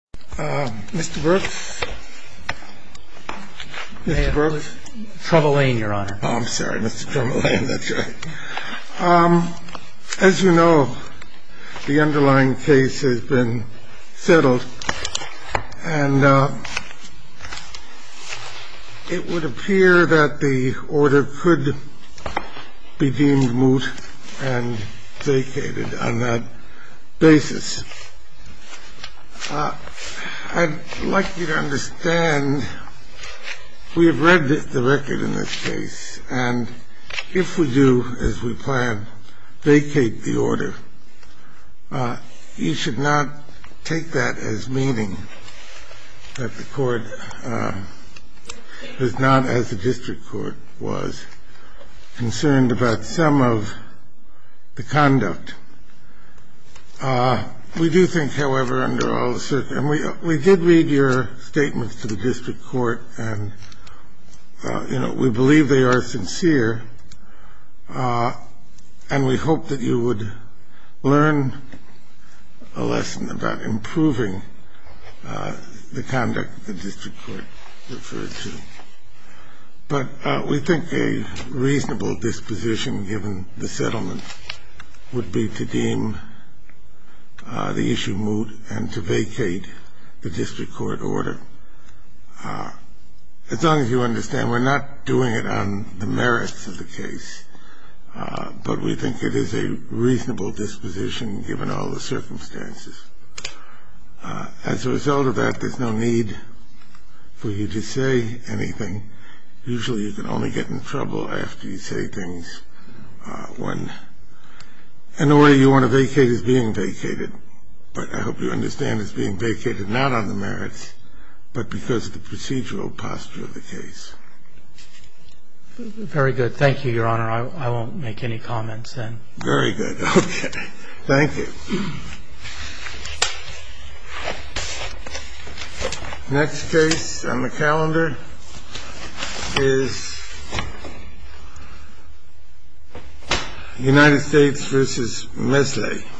Mr. Brooks? Mr. Brooks? Trouble Lane, Your Honor. Oh, I'm sorry, Mr. Trouble Lane, that's right. As you know, the underlying case has been settled, and it would appear that the order could be deemed moot and vacated on that basis. I'd like you to understand we have read the record in this case, and if we do, as we planned, vacate the order, you should not take that as meaning that the court was not, as the district court was, concerned about some of the conduct. We do think, however, under all the circumstances, and we did read your statements to the district court, and, you know, we believe they are sincere, and we hope that you would learn a lesson about improving the conduct the district court referred to. But we think a reasonable disposition given the settlement would be to deem the issue moot and to vacate the district court order. As long as you understand, we're not doing it on the merits of the case, but we think it is a reasonable disposition given all the circumstances. As a result of that, there's no need for you to say anything. Usually you can only get in trouble after you say things when an order you want to vacate is being vacated. But I hope you understand it's being vacated not on the merits, but because of the procedural posture of the case. Very good. Thank you, Your Honor. I won't make any comments then. Very good. Okay. Thank you. Next case on the calendar is United States v. Mislay.